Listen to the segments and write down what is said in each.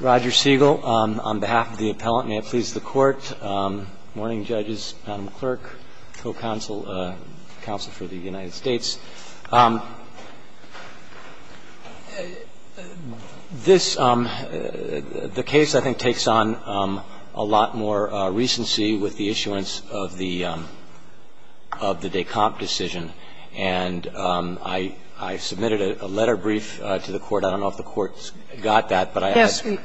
Roger Siegel, on behalf of the appellant, may it please the Court. Morning, judges. Madam Clerk, co-counsel, counsel for the United States, this, the case, I think, takes on a lot more recency with the issuance of the de compte decision. And I submitted a letter brief to the Court. I don't know if the Court got that. But I asked the Court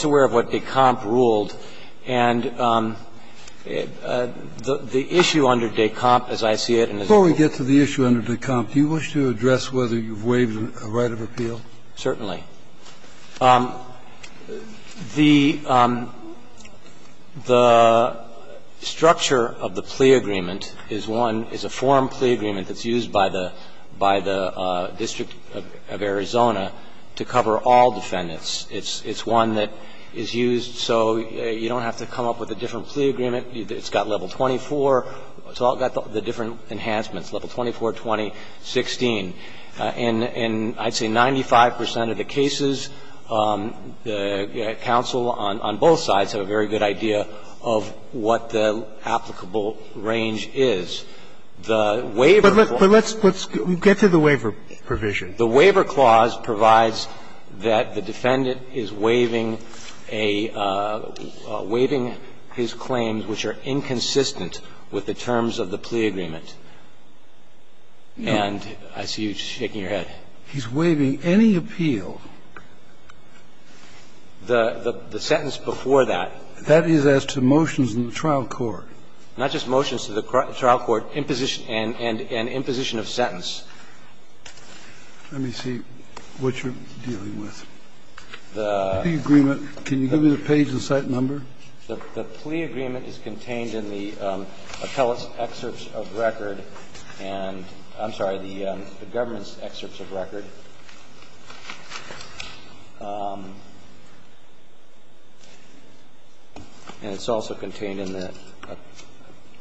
to be aware of what de compte ruled, and the issue under de compte, as I see it, and as you ruled. Before we get to the issue under de compte, do you wish to address whether you've waived a right of appeal? Certainly. The structure of the plea agreement is one, is a forum plea agreement that's used by the District of Arizona to cover all defendants. It's one that is used so you don't have to come up with a different plea agreement. It's got level 24. It's all got the different enhancements, level 24, 20, 16. In I'd say 95 percent of the cases, counsel on both sides have a very good idea of what The waiver of a right of appeal. But let's get to the waiver provision. The waiver clause provides that the defendant is waiving a – waiving his claims which are inconsistent with the terms of the plea agreement. And I see you shaking your head. He's waiving any appeal. The sentence before that. That is as to motions in the trial court. Not just motions to the trial court, imposition and imposition of sentence. Let me see what you're dealing with. The plea agreement. Can you give me the page and site number? The plea agreement is contained in the appellate's excerpts of record and – I'm sorry, the government's excerpts of record. And it's also contained in the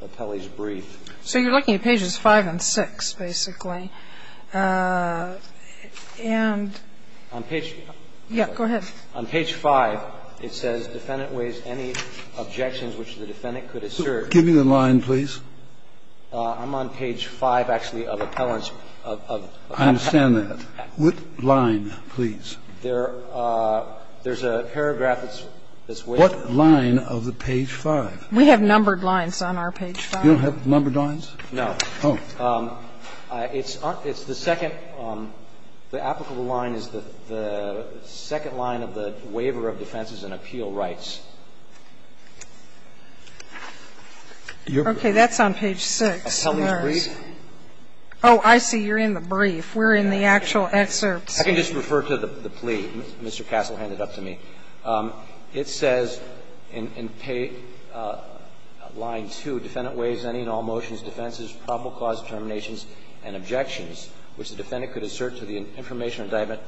appellate's brief. So you're looking at pages 5 and 6, basically. And on page – yeah, go ahead. On page 5, it says defendant waives any objections which the defendant could assert. Give me the line, please. I'm on page 5, actually, of appellant's – of appellate's – I understand that. What line, please? There's a paragraph that's waived. What line of the page 5? We have numbered lines on our page 5. You don't have numbered lines? No. Oh. It's the second – the applicable line is the second line of the waiver of defenses and appeal rights. Okay, that's on page 6. Appellant's brief. Oh, I see. You're in the brief. We're in the actual excerpts. I can just refer to the plea Mr. Castle handed up to me. It says in line 2, defendant waives any and all motions, defenses, probable cause determinations and objections which the defendant could assert to the information indictment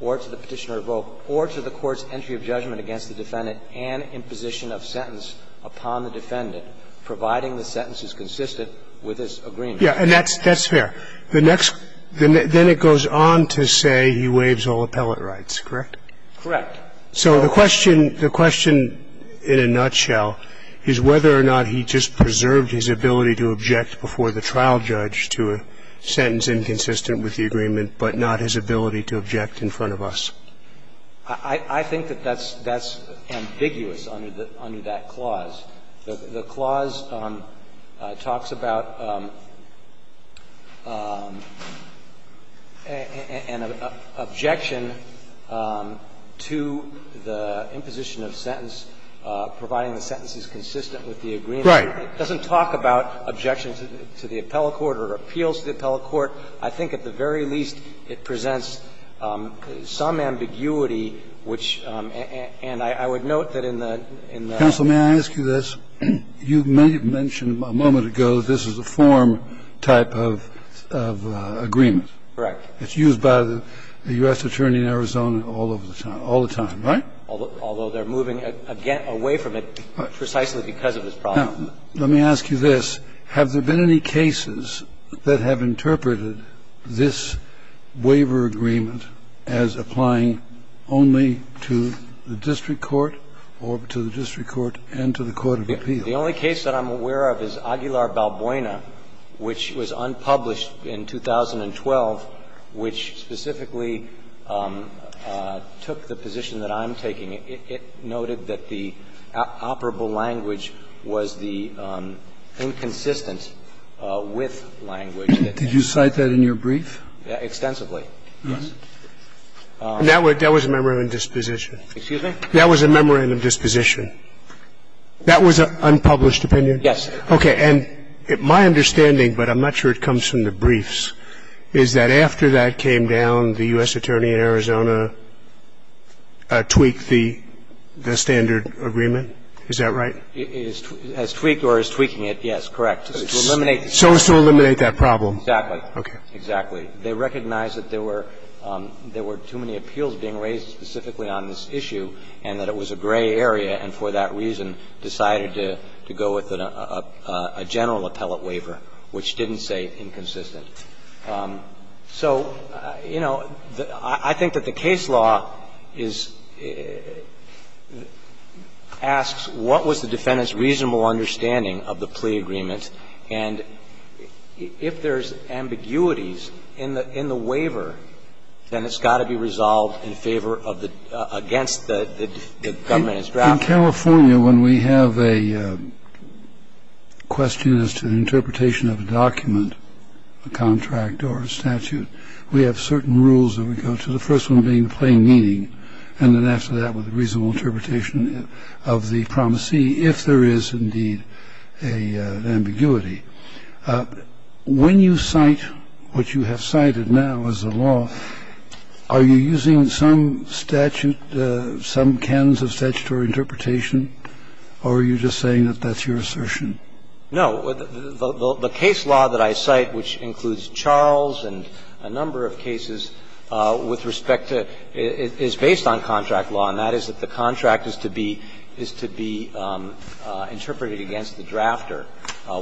or to the Petitioner of Vogue or to the court's entry of judgment against the defendant and imposition of sentence upon the defendant, providing the sentence is consistent with his agreement. Yeah, and that's fair. The next – then it goes on to say he waives all appellate rights, correct? Correct. So the question – the question in a nutshell is whether or not he just preserved his ability to object before the trial judge to a sentence inconsistent with the agreement, but not his ability to object in front of us. I think that that's ambiguous under that clause. The clause talks about an objection to the imposition of sentence, providing the sentence is consistent with the agreement. Right. It doesn't talk about objections to the appellate court or appeals to the appellate court. I think at the very least it presents some ambiguity, which – and I would note has a waiver agreement. And as you mentioned a moment ago, this is a form-type of agreement. Correct. It's used by the U.S. Attorney in Arizona all of the time, all the time, right? Although they're moving, again, away from it precisely because of this problem. Now, let me ask you this. Have there been any cases that have interpreted this waiver agreement as applying only to the district court or to the district court and to the court of appeal? The only case that I'm aware of is Aguilar-Balboina, which was unpublished in 2012, which specifically took the position that I'm taking. It noted that the operable language was the inconsistent with language that the district court had. Did you cite that in your brief? Extensively, yes. That was a memorandum of disposition. Excuse me? That was a memorandum of disposition. That was an unpublished opinion? Yes. Okay. And my understanding, but I'm not sure it comes from the briefs, is that after that came down, the U.S. attorney in Arizona tweaked the standard agreement. Is that right? It has tweaked or is tweaking it, yes, correct. So as to eliminate that problem. Exactly. Okay. Exactly. They recognized that there were too many appeals being raised specifically on this issue and that it was a gray area and for that reason decided to go with a general appellate waiver, which didn't say inconsistent. So, you know, I think that the case law is asks what was the defendant's reasonable understanding of the plea agreement and if there's ambiguities in the waiver, then it's got to be resolved in favor of the – against the government instruction. In California, when we have a question as to the interpretation of a document, a contract or a statute, we have certain rules that we go to, the first one being plain meaning and then after that with a reasonable interpretation of the promisee if there is indeed an ambiguity. When you cite what you have cited now as the law, are you using some statute, some canons of statutory interpretation or are you just saying that that's your assertion? No. The case law that I cite, which includes Charles and a number of cases, with respect to – is based on contract law, and that is that the contract is to be – is to be interpreted against the drafter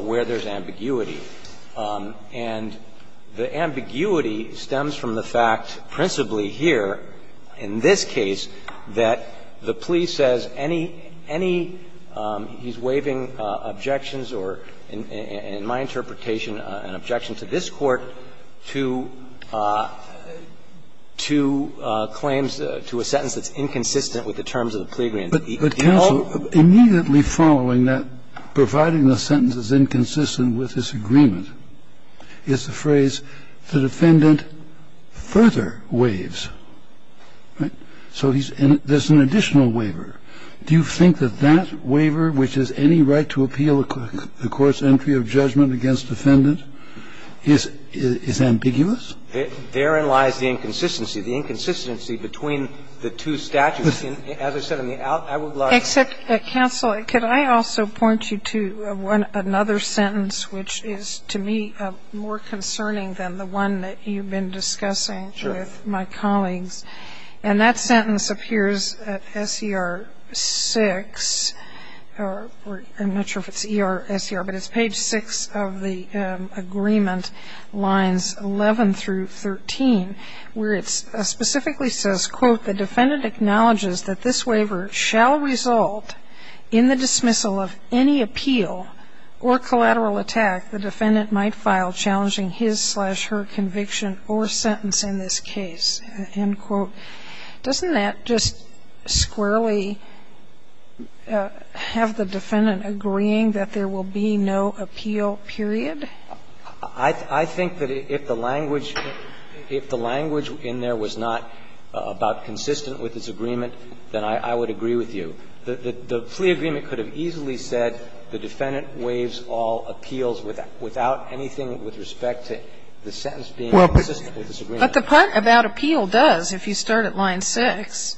where there's ambiguity. And the ambiguity stems from the fact principally here in this case that the plea And this is a case where the plaintiff says any – any – he's waiving objections or, in my interpretation, an objection to this Court to – to claims, to a sentence that's inconsistent with the terms of the plea agreement. But counsel, immediately following that, providing the sentence is inconsistent with this agreement, is the phrase, the defendant further waives, right? So he's – and there's an additional waiver. Do you think that that waiver, which is any right to appeal the Court's entry of judgment against defendant, is – is ambiguous? Therein lies the inconsistency. The inconsistency between the two statutes, as I said, on the out – I would like which is, to me, more concerning than the one that you've been discussing with my colleagues. And that sentence appears at S.E.R. 6, or – I'm not sure if it's E.R. or S.E.R., but it's page 6 of the agreement, lines 11 through 13, where it specifically says, quote, Doesn't that just squarely have the defendant agreeing that there will be no appeal, period? I think that if the language – if the language in there was not about consistent with this agreement, then I would agree with you. The plea agreement could have easily said, the defendant waives all appeals without anything with respect to the sentence being consistent with this agreement. But the part about appeal does, if you start at line 6,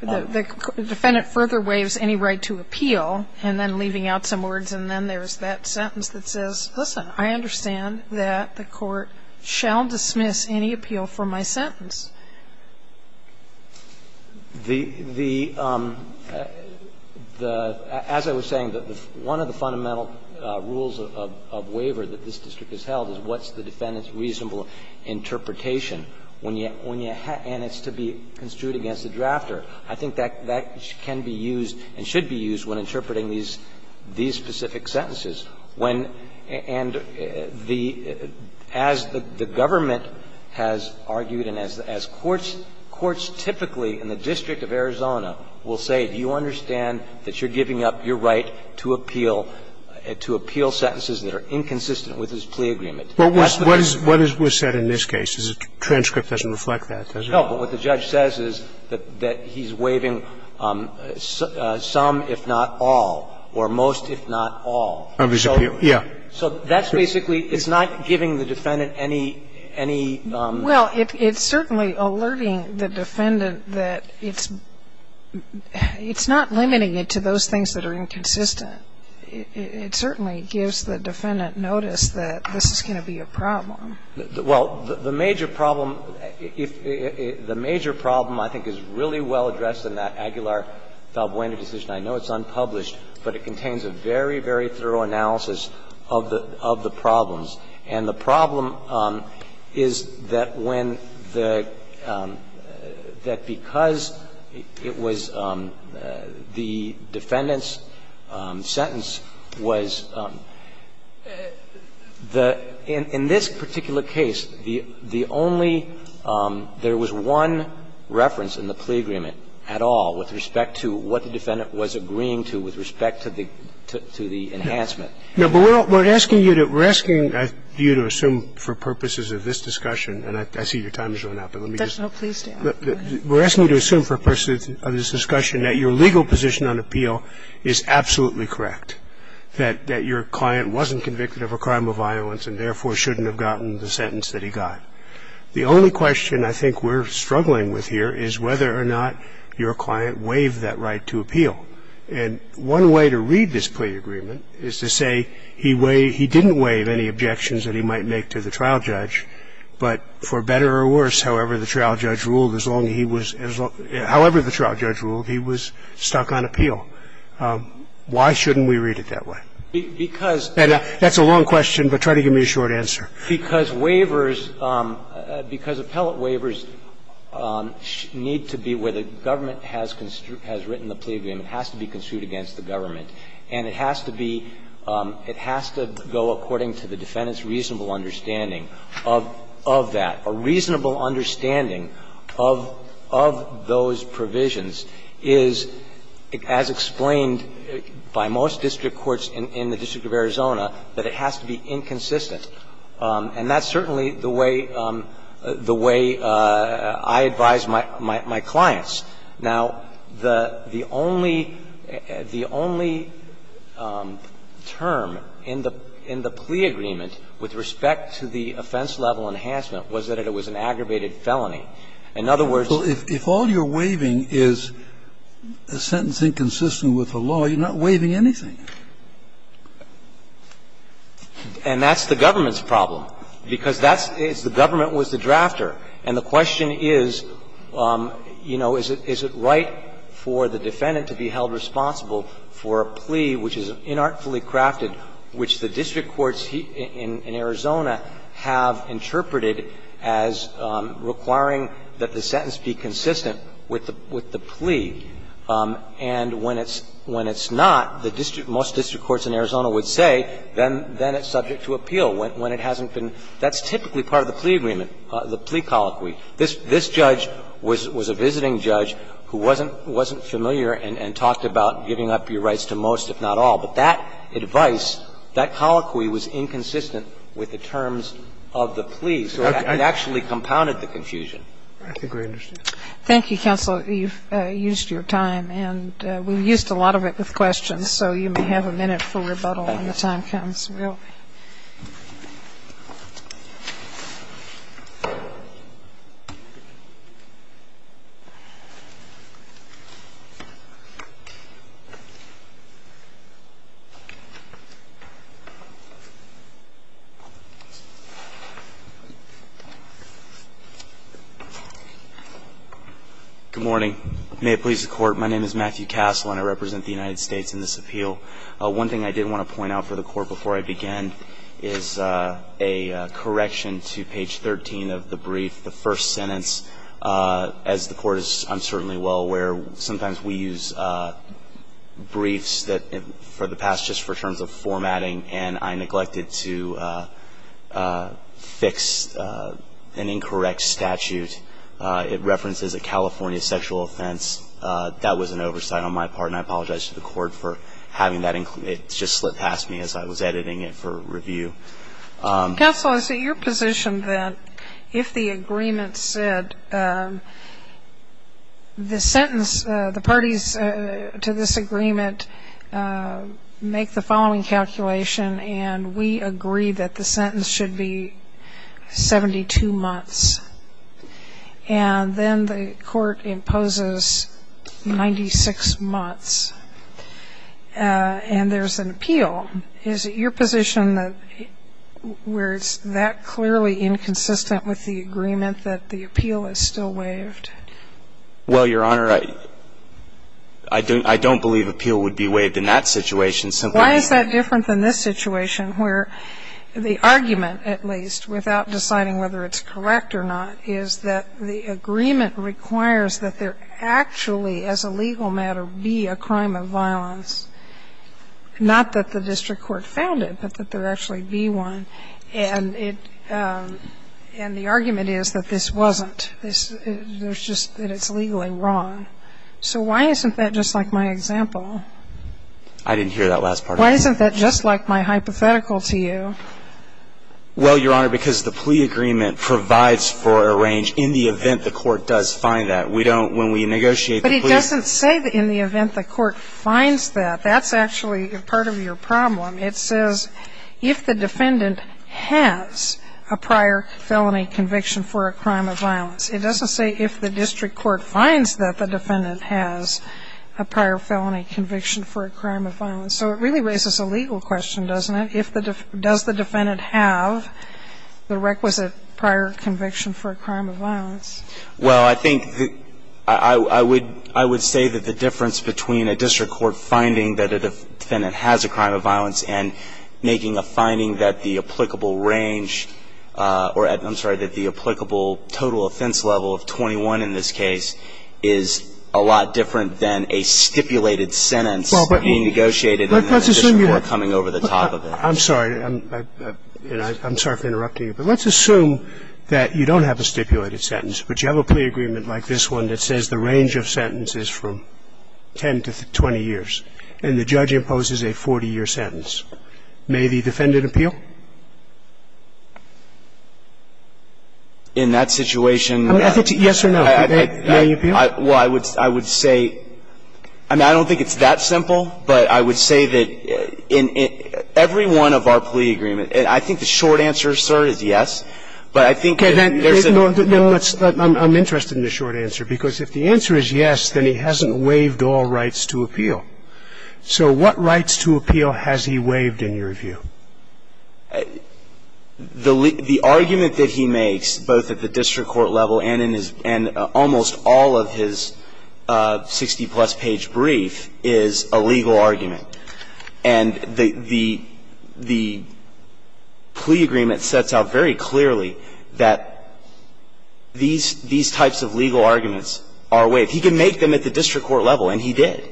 the defendant further waives any right to appeal, and then leaving out some words, and then there's that I understand that the Court shall dismiss any appeal for my sentence. The – the – as I was saying, one of the fundamental rules of waiver that this district has held is what's the defendant's reasonable interpretation when you – and it's to be construed against the drafter. I think that can be used and should be used when interpreting these specific sentences. When – and the – as the government has argued and as courts – courts typically in the District of Arizona will say, do you understand that you're giving up your right to appeal – to appeal sentences that are inconsistent with this plea agreement? What is – what is said in this case? The transcript doesn't reflect that, does it? No. But what the judge says is that he's waiving some, if not all, or most, if not all. Of his appeal. Yeah. So that's basically – it's not giving the defendant any – any – Well, it's certainly alerting the defendant that it's – it's not limiting it to those things that are inconsistent. It certainly gives the defendant notice that this is going to be a problem. Well, the major problem – if – the major problem I think is really well addressed in that Aguilar-Valbuena decision. I know it's unpublished, but it contains a very, very thorough analysis of the – of the problems. And the problem is that when the – that because it was the defendant's sentence was the – in this particular case, the only – there was one reference in the plea agreement, and that was that the defendant was not convicted of a crime of violence and therefore shouldn't have gotten the sentence that he got. The only question I think we're struggling with here is whether or not this is a legal And one way to read this plea agreement is to say he way – he didn't waive any objections that he might make to the trial judge, but for better or worse, however the trial judge ruled, as long as he was – however the trial judge ruled, he was stuck on appeal. Why shouldn't we read it that way? Because – And that's a long question, but try to give me a short answer. Because waivers – because appellate waivers need to be where the government has written the plea agreement. It has to be construed against the government. And it has to be – it has to go according to the defendant's reasonable understanding of that. A reasonable understanding of those provisions is, as explained by most district courts in the District of Arizona, that it has to be inconsistent. And that's certainly the way – the way I advise my clients. Now, the only – the only term in the plea agreement with respect to the offense-level enhancement was that it was an aggravated felony. In other words – If all you're waiving is a sentence inconsistent with the law, you're not waiving anything. And that's the government's problem, because that's – the government was the drafter. And the question is, you know, is it right for the defendant to be held responsible for a plea which is inartfully crafted, which the district courts in Arizona have interpreted as requiring that the sentence be consistent with the plea. And when it's – when it's not, the district – most district courts in Arizona would say, then it's subject to appeal, when it hasn't been – that's typically part of the plea agreement, the plea colloquy. This judge was a visiting judge who wasn't familiar and talked about giving up your rights to most, if not all. But that advice, that colloquy was inconsistent with the terms of the plea. So it actually compounded the confusion. Roberts. Thank you, counsel. You've used your time. And we've used a lot of it with questions, so you may have a minute for rebuttal when the time comes. We'll – Good morning. May it please the Court, my name is Matthew Cassel, and I represent the United States in this appeal. One thing I did want to point out for the Court before I begin is a correction to page 13 of the brief, the first sentence. As the Court is uncertainly well aware, sometimes we use briefs that – for the past, just for terms of formatting, and I neglected to fix an incorrect statute. It references a California sexual offense. That was an oversight on my part, and I apologize to the Court for having that – it just slipped past me as I was editing it for review. Counsel, is it your position that if the agreement said the sentence, the parties to this agreement make the following calculation, and we agree that the sentence should be 72 months, and then the Court imposes 96 months, and there's an appeal, is it your position that where it's that clearly inconsistent with the agreement that the appeal is still waived? Well, Your Honor, I don't believe appeal would be waived in that situation. Why is that different than this situation where the argument, at least, without deciding whether it's correct or not, is that the agreement requires that there actually be one, and it – and the argument is that this wasn't. There's just – that it's legally wrong. So why isn't that just like my example? I didn't hear that last part. Why isn't that just like my hypothetical to you? Well, Your Honor, because the plea agreement provides for a range in the event the Court does find that. We don't – when we negotiate the plea – But it doesn't say in the event the Court finds that. That's actually part of your problem. It says if the defendant has a prior felony conviction for a crime of violence. It doesn't say if the district court finds that the defendant has a prior felony conviction for a crime of violence. So it really raises a legal question, doesn't it? If the – does the defendant have the requisite prior conviction for a crime of violence? Well, I think the – I would – I would say that the difference between a district court finding that a defendant has a crime of violence and making a finding that the applicable range or – I'm sorry – that the applicable total offense level of 21 in this case is a lot different than a stipulated sentence being negotiated in the district court coming over the top of it. I'm sorry. I'm sorry for interrupting you, but let's assume that you don't have a stipulated sentence, but you have a plea agreement like this one that says the range of sentences from 10 to 20 years, and the judge imposes a 40-year sentence. May the defendant appeal? In that situation – I mean, I think yes or no. May he appeal? Well, I would – I would say – I mean, I don't think it's that simple, but I would say that in every one of our plea agreements – and I think the short answer, sir, is yes. But I think there's a – Well, let's – I'm interested in the short answer, because if the answer is yes, then he hasn't waived all rights to appeal. So what rights to appeal has he waived, in your view? The argument that he makes, both at the district court level and in his – and almost all of his 60-plus page brief is a legal argument. And the – the plea agreement sets out very clearly that these – these types of legal arguments are waived. He can make them at the district court level, and he did.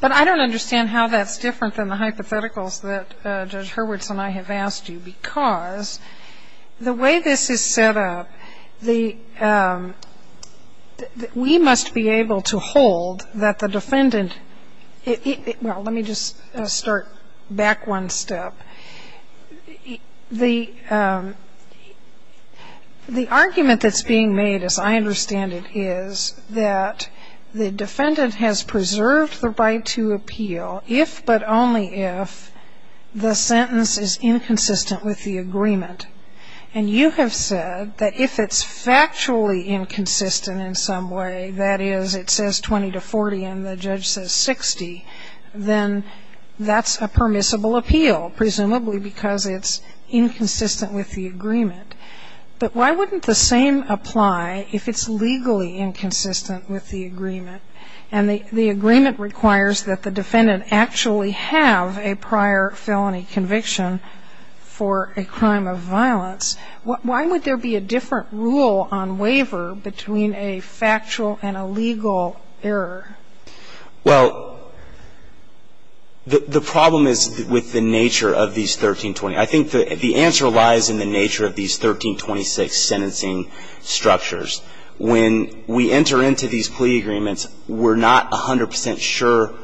But I don't understand how that's different than the hypotheticals that Judge Hurwitz and I have asked you, because the way this is set up, the – we must be able to hold that the defendant – well, let me just start back one step. The – the argument that's being made, as I understand it, is that the defendant has preserved the right to appeal if, but only if, the sentence is inconsistent with the agreement. And you have said that if it's factually inconsistent in some way, that is, it says 20 to 40 and the judge says 60, then that's a permissible appeal, presumably because it's inconsistent with the agreement. But why wouldn't the same apply if it's legally inconsistent with the agreement? And the – the agreement requires that the defendant actually have a prior felony conviction for a crime of violence. Why would there be a different rule on waiver between a factual and a legal error? Well, the problem is with the nature of these 1320. I think the answer lies in the nature of these 1326 sentencing structures. When we enter into these plea agreements, we're not 100 percent sure.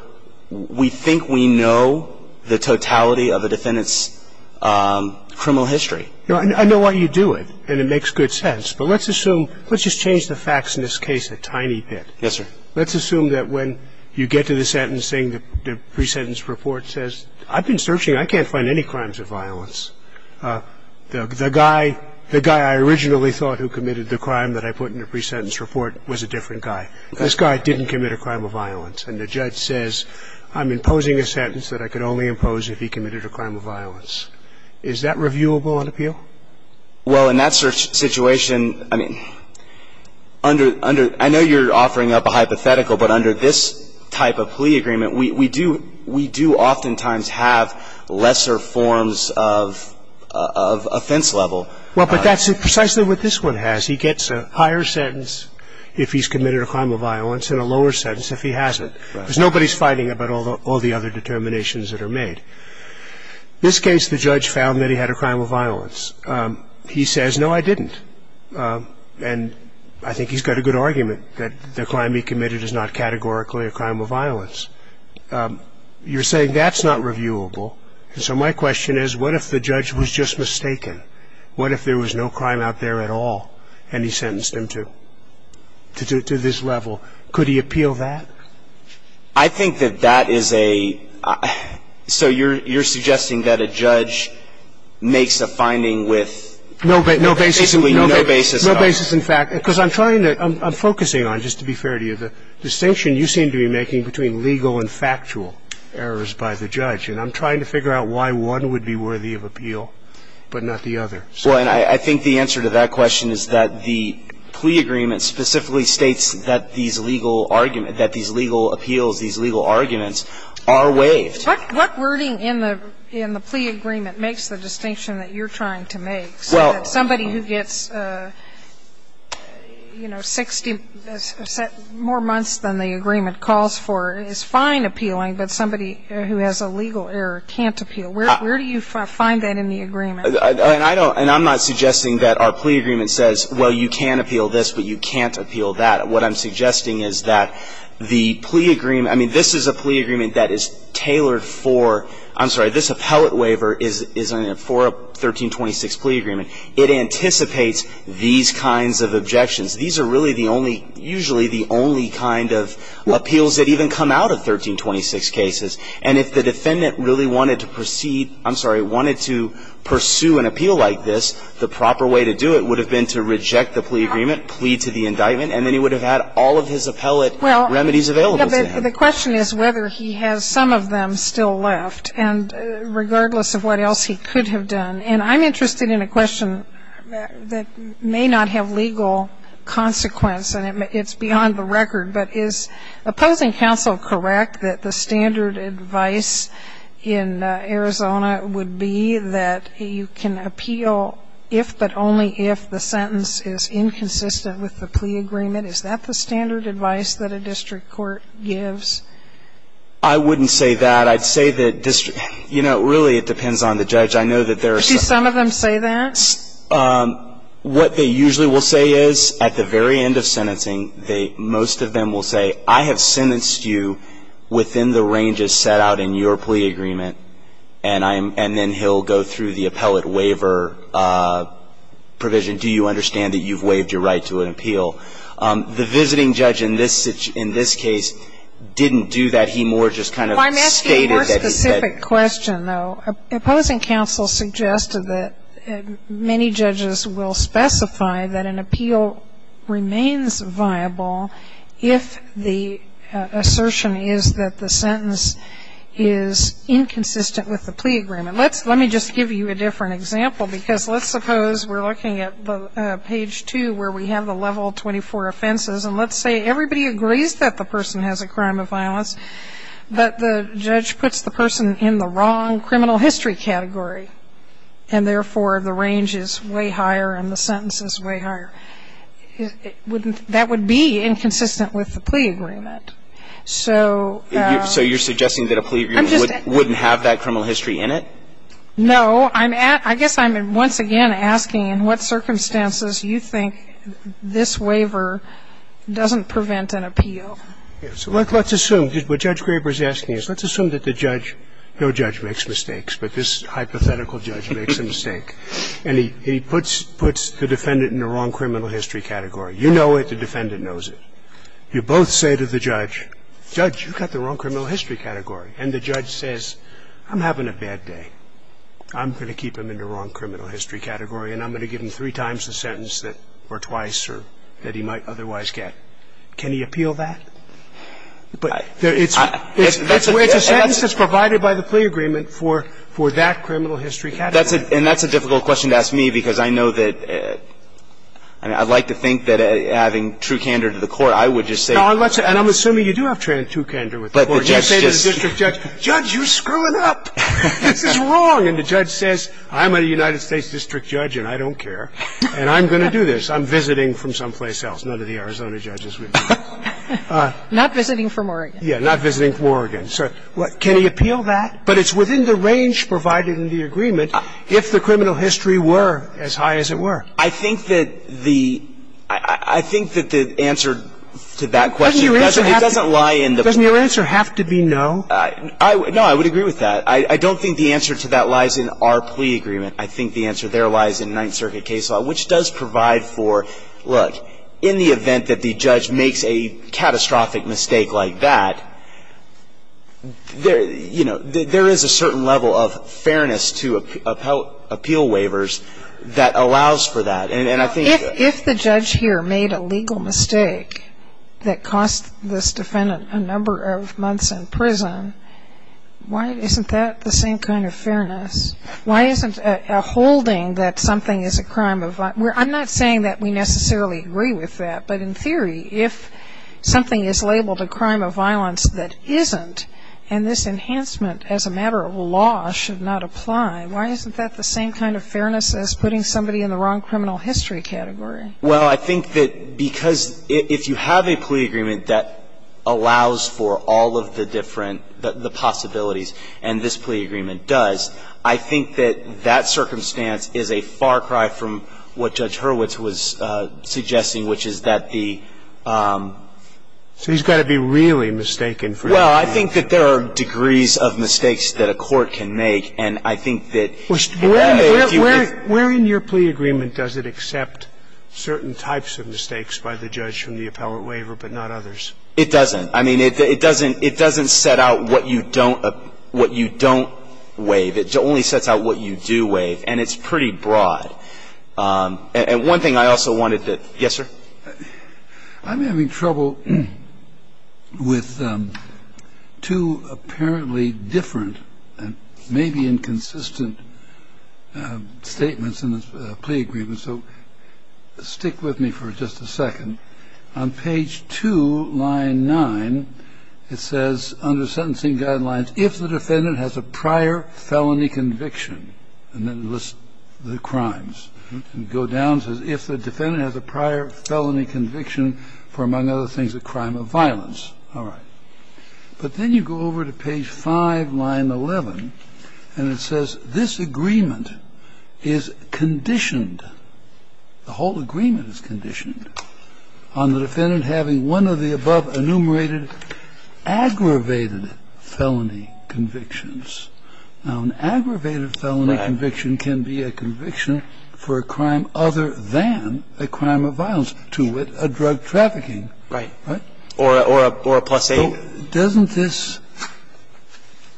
We think we know the totality of a defendant's criminal history. I know why you do it, and it makes good sense, but let's assume – let's just change the facts in this case a tiny bit. Yes, sir. Let's assume that when you get to the sentencing, the pre-sentence report says, I've been searching. I can't find any crimes of violence. The guy – the guy I originally thought who committed the crime that I put in the pre-sentence report was a different guy. This guy didn't commit a crime of violence. And the judge says, I'm imposing a sentence that I could only impose if he committed a crime of violence. Is that reviewable on appeal? Well, in that situation, I mean, under – I know you're offering up a hypothetical, but under this type of plea agreement, we do – we do oftentimes have lesser forms of offense level. Well, but that's precisely what this one has. He gets a higher sentence if he's committed a crime of violence and a lower sentence if he hasn't. Right. Because nobody's fighting about all the other determinations that are made. This case, the judge found that he had a crime of violence. He says, no, I didn't. And I think he's got a good argument that the crime he committed is not categorically a crime of violence. You're saying that's not reviewable. So my question is, what if the judge was just mistaken? What if there was no crime out there at all and he sentenced him to – to this level? Could he appeal that? I think that that is a – so you're suggesting that a judge makes a finding with basically no basis at all. No basis in fact. Because I'm trying to – I'm focusing on, just to be fair to you, the distinction you seem to be making between legal and factual errors by the judge. And I'm trying to figure out why one would be worthy of appeal but not the other. Well, and I think the answer to that question is that the plea agreement specifically states that these legal argument – that these legal appeals, these legal arguments are waived. What wording in the – in the plea agreement makes the distinction that you're trying to make? Well – So that somebody who gets, you know, 60 – more months than the agreement calls for is fine appealing, but somebody who has a legal error can't appeal. Where do you find that in the agreement? And I don't – and I'm not suggesting that our plea agreement says, well, you can appeal that. What I'm suggesting is that the plea agreement – I mean, this is a plea agreement that is tailored for – I'm sorry, this appellate waiver is for a 1326 plea agreement. It anticipates these kinds of objections. These are really the only – usually the only kind of appeals that even come out of 1326 cases. And if the defendant really wanted to proceed – I'm sorry, wanted to pursue an appeal like this, the proper way to do it would have been to reject the plea agreement, plead to the indictment, and then he would have had all of his appellate remedies available to him. Well, yeah, but the question is whether he has some of them still left, and regardless of what else he could have done. And I'm interested in a question that may not have legal consequence, and it's beyond the record, but is opposing counsel correct that the standard advice in Arizona would be that you can appeal if, but only if, the sentence is inconsistent with the plea agreement? Is that the standard advice that a district court gives? I wouldn't say that. I'd say that district – you know, really, it depends on the judge. I know that there are some – Do some of them say that? What they usually will say is, at the very end of sentencing, they – most of them will say, I have sentenced you within the ranges set out in your plea agreement, and then he'll go through the appellate waiver provision. Do you understand that you've waived your right to an appeal? The visiting judge in this case didn't do that. He more just kind of stated that he had – Well, I'm asking a more specific question, though. Opposing counsel suggested that many judges will specify that an appeal remains viable if the assertion is that the sentence is inconsistent with the plea agreement. Let me just give you a different example, because let's suppose we're looking at page 2, where we have the level 24 offenses, and let's say everybody agrees that the person has a crime of violence, but the judge puts the person in the wrong criminal history category, and therefore the range is way higher and the sentence is way higher. That would be inconsistent with the plea agreement. So – So you're suggesting that a plea agreement wouldn't have that criminal history in it? No. I guess I'm once again asking in what circumstances you think this waiver doesn't prevent an appeal. So let's assume – what Judge Graber is asking is let's assume that the judge – no judge makes mistakes, but this hypothetical judge makes a mistake, and he puts the defendant in the wrong criminal history category. You know it. The defendant knows it. You both say to the judge, Judge, you've got the wrong criminal history category. And the judge says, I'm having a bad day. I'm going to keep him in the wrong criminal history category, and I'm going to give him three times the sentence or twice that he might otherwise get. Can he appeal that? But it's a sentence that's provided by the plea agreement for that criminal history category. And that's a difficult question to ask me because I know that – I mean, I'd like to think that having true candor to the court, I would just say – And I'm assuming you do have true candor with the court. But the judge just – You say to the district judge, Judge, you're screwing up. This is wrong. And the judge says, I'm a United States district judge, and I don't care, and I'm going to do this. I'm visiting from someplace else. None of the Arizona judges would do that. Not visiting from Oregon. Yeah, not visiting from Oregon. So can he appeal that? But it's within the range provided in the agreement if the criminal history were as high as it were. I think that the – I think that the answer to that question doesn't – it doesn't lie in the plea. Doesn't your answer have to be no? No, I would agree with that. I don't think the answer to that lies in our plea agreement. I think the answer there lies in Ninth Circuit case law, which does provide for, look, in the event that the judge makes a catastrophic mistake like that, there is a certain level of fairness to appeal waivers that allows for that. If the judge here made a legal mistake that cost this defendant a number of months in prison, why isn't that the same kind of fairness? Why isn't a holding that something is a crime of – I'm not saying that we necessarily agree with that, but in theory, if something is labeled a crime of violence that isn't, and this enhancement as a matter of law should not apply, why isn't that the same kind of fairness as putting somebody in the wrong criminal history category? Well, I think that because if you have a plea agreement that allows for all of the different – the possibilities, and this plea agreement does, I think that that circumstance is a far cry from what Judge Hurwitz was suggesting, which is that the – So he's got to be really mistaken for that. Well, I think that there are degrees of mistakes that a court can make, and I think that if you have a view that's – Where in your plea agreement does it accept certain types of mistakes by the judge from the appellate waiver, but not others? It doesn't. I mean, it doesn't set out what you don't waive. It only sets out what you do waive, and it's pretty broad. And one thing I also wanted to – yes, sir. I'm having trouble with two apparently different and maybe inconsistent statements in this plea agreement, so stick with me for just a second. On page 2, line 9, it says, under sentencing guidelines, if the defendant has a prior felony conviction, and then lists the crimes, and go down and says, if the defendant has a prior felony conviction for, among other things, a crime of violence. All right. But then you go over to page 5, line 11, and it says, this agreement is conditioned – the whole agreement is conditioned – on the defendant having one of the above enumerated aggravated felony convictions. Now, an aggravated felony conviction can be a conviction for a crime other than a crime of violence, to wit, a drug trafficking. Right. Or a plus 8. Doesn't this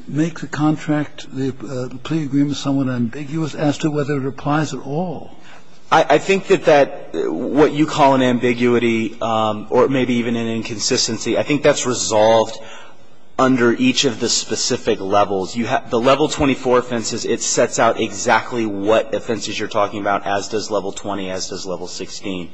make the contract, the plea agreement, somewhat ambiguous as to whether it applies at all? I think that that – what you call an ambiguity or maybe even an inconsistency, I think that's resolved under each of the specific levels. The level 24 offenses, it sets out exactly what offenses you're talking about, as does level 20, as does level 16.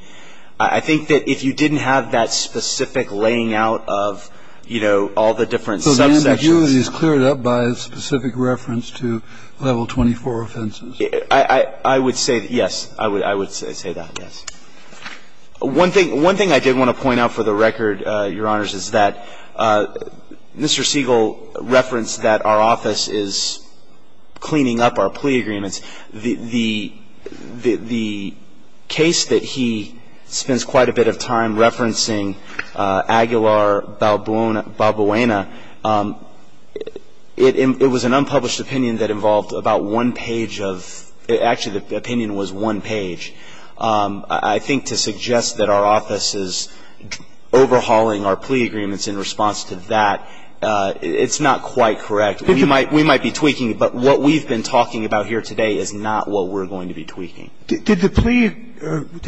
I think that if you didn't have that specific laying out of, you know, all the different subsections – So the ambiguity is cleared up by a specific reference to level 24 offenses? I would say that, yes. I would say that, yes. One thing I did want to point out for the record, Your Honors, is that Mr. Siegel referenced that our office is cleaning up our plea agreements. The case that he spends quite a bit of time referencing, Aguilar-Balbuena, it was an unpublished opinion that involved about one page of – actually, the opinion was one page. I think to suggest that our office is overhauling our plea agreements in response to that, it's not quite correct. We might be tweaking it, but what we've been talking about here today is not what we're going to be tweaking. Did the plea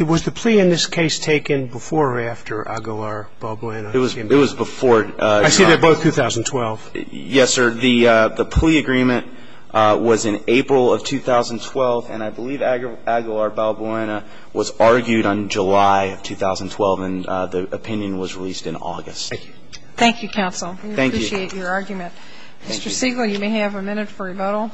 – was the plea in this case taken before or after Aguilar-Balbuena? It was before. I see they're both 2012. Yes, sir. The plea agreement was in April of 2012, and I believe Aguilar-Balbuena was argued on July of 2012, and the opinion was released in August. Thank you. Thank you, counsel. Thank you. We appreciate your argument. Mr. Siegel, you may have a minute for rebuttal.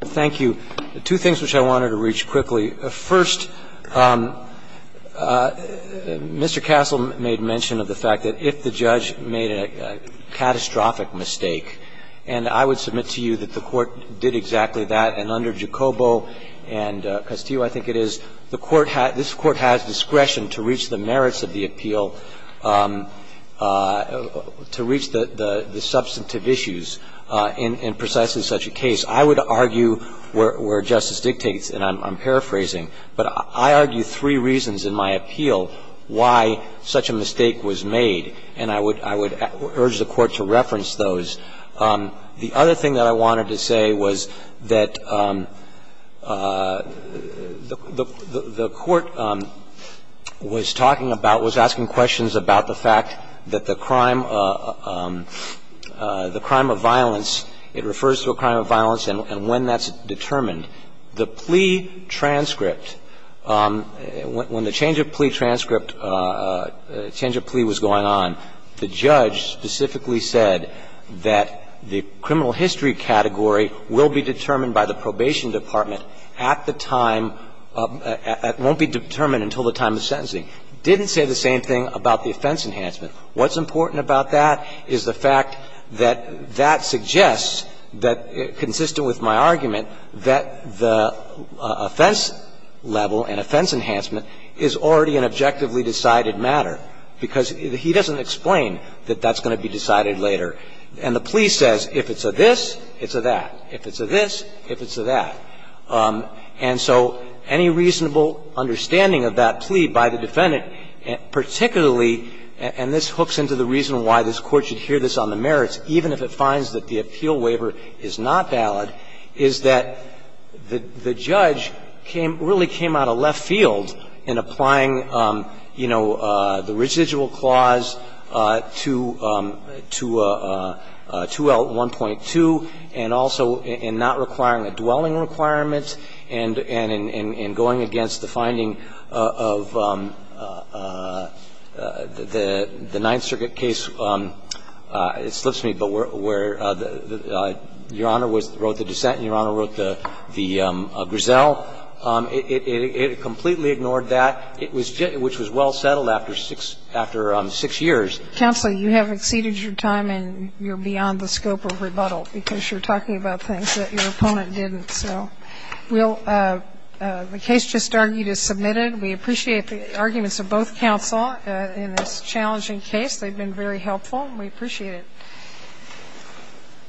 Thank you. Two things which I wanted to reach quickly. First, Mr. Castle made mention of the fact that if the judge made a catastrophic mistake, and I would submit to you that the Court did exactly that, and under Jacobo and Castillo, I think it is, the Court has – this Court has discretion to reach the merits of the appeal, to reach the substantive issues in precisely such a case. I would argue where justice dictates, and I'm paraphrasing, but I argue three reasons in my appeal why such a mistake was made, and I would urge the Court to reference those. The other thing that I wanted to say was that the Court was talking about, was asking questions about the fact that the crime, the crime of violence, it refers to a crime of violence and when that's determined. The plea transcript, when the change of plea transcript, change of plea was going on, the judge specifically said that the criminal history category will be determined by the probation department at the time, won't be determined until the time of sentencing. Didn't say the same thing about the offense enhancement. What's important about that is the fact that that suggests that, consistent with my argument, that the offense level and offense enhancement is already an objectively decided matter, because he doesn't explain that that's going to be decided later. And the plea says if it's a this, it's a that. If it's a this, if it's a that. And so any reasonable understanding of that plea by the defendant, particularly and this hooks into the reason why this Court should hear this on the merits, even if it finds that the appeal waiver is not valid, is that the judge came, really came out of left field in applying, you know, the residual clause to 2L1.2 and also in not requiring a dwelling requirement and in going against the finding of, you know, the 9th Circuit case, it slips me, but where Your Honor wrote the dissent and Your Honor wrote the griselle, it completely ignored that, which was well settled after 6 years. Counsel, you have exceeded your time and you're beyond the scope of rebuttal because you're talking about things that your opponent didn't. So we'll the case just argued is submitted. We appreciate the arguments of both counsel in this challenging case. They've been very helpful and we appreciate it.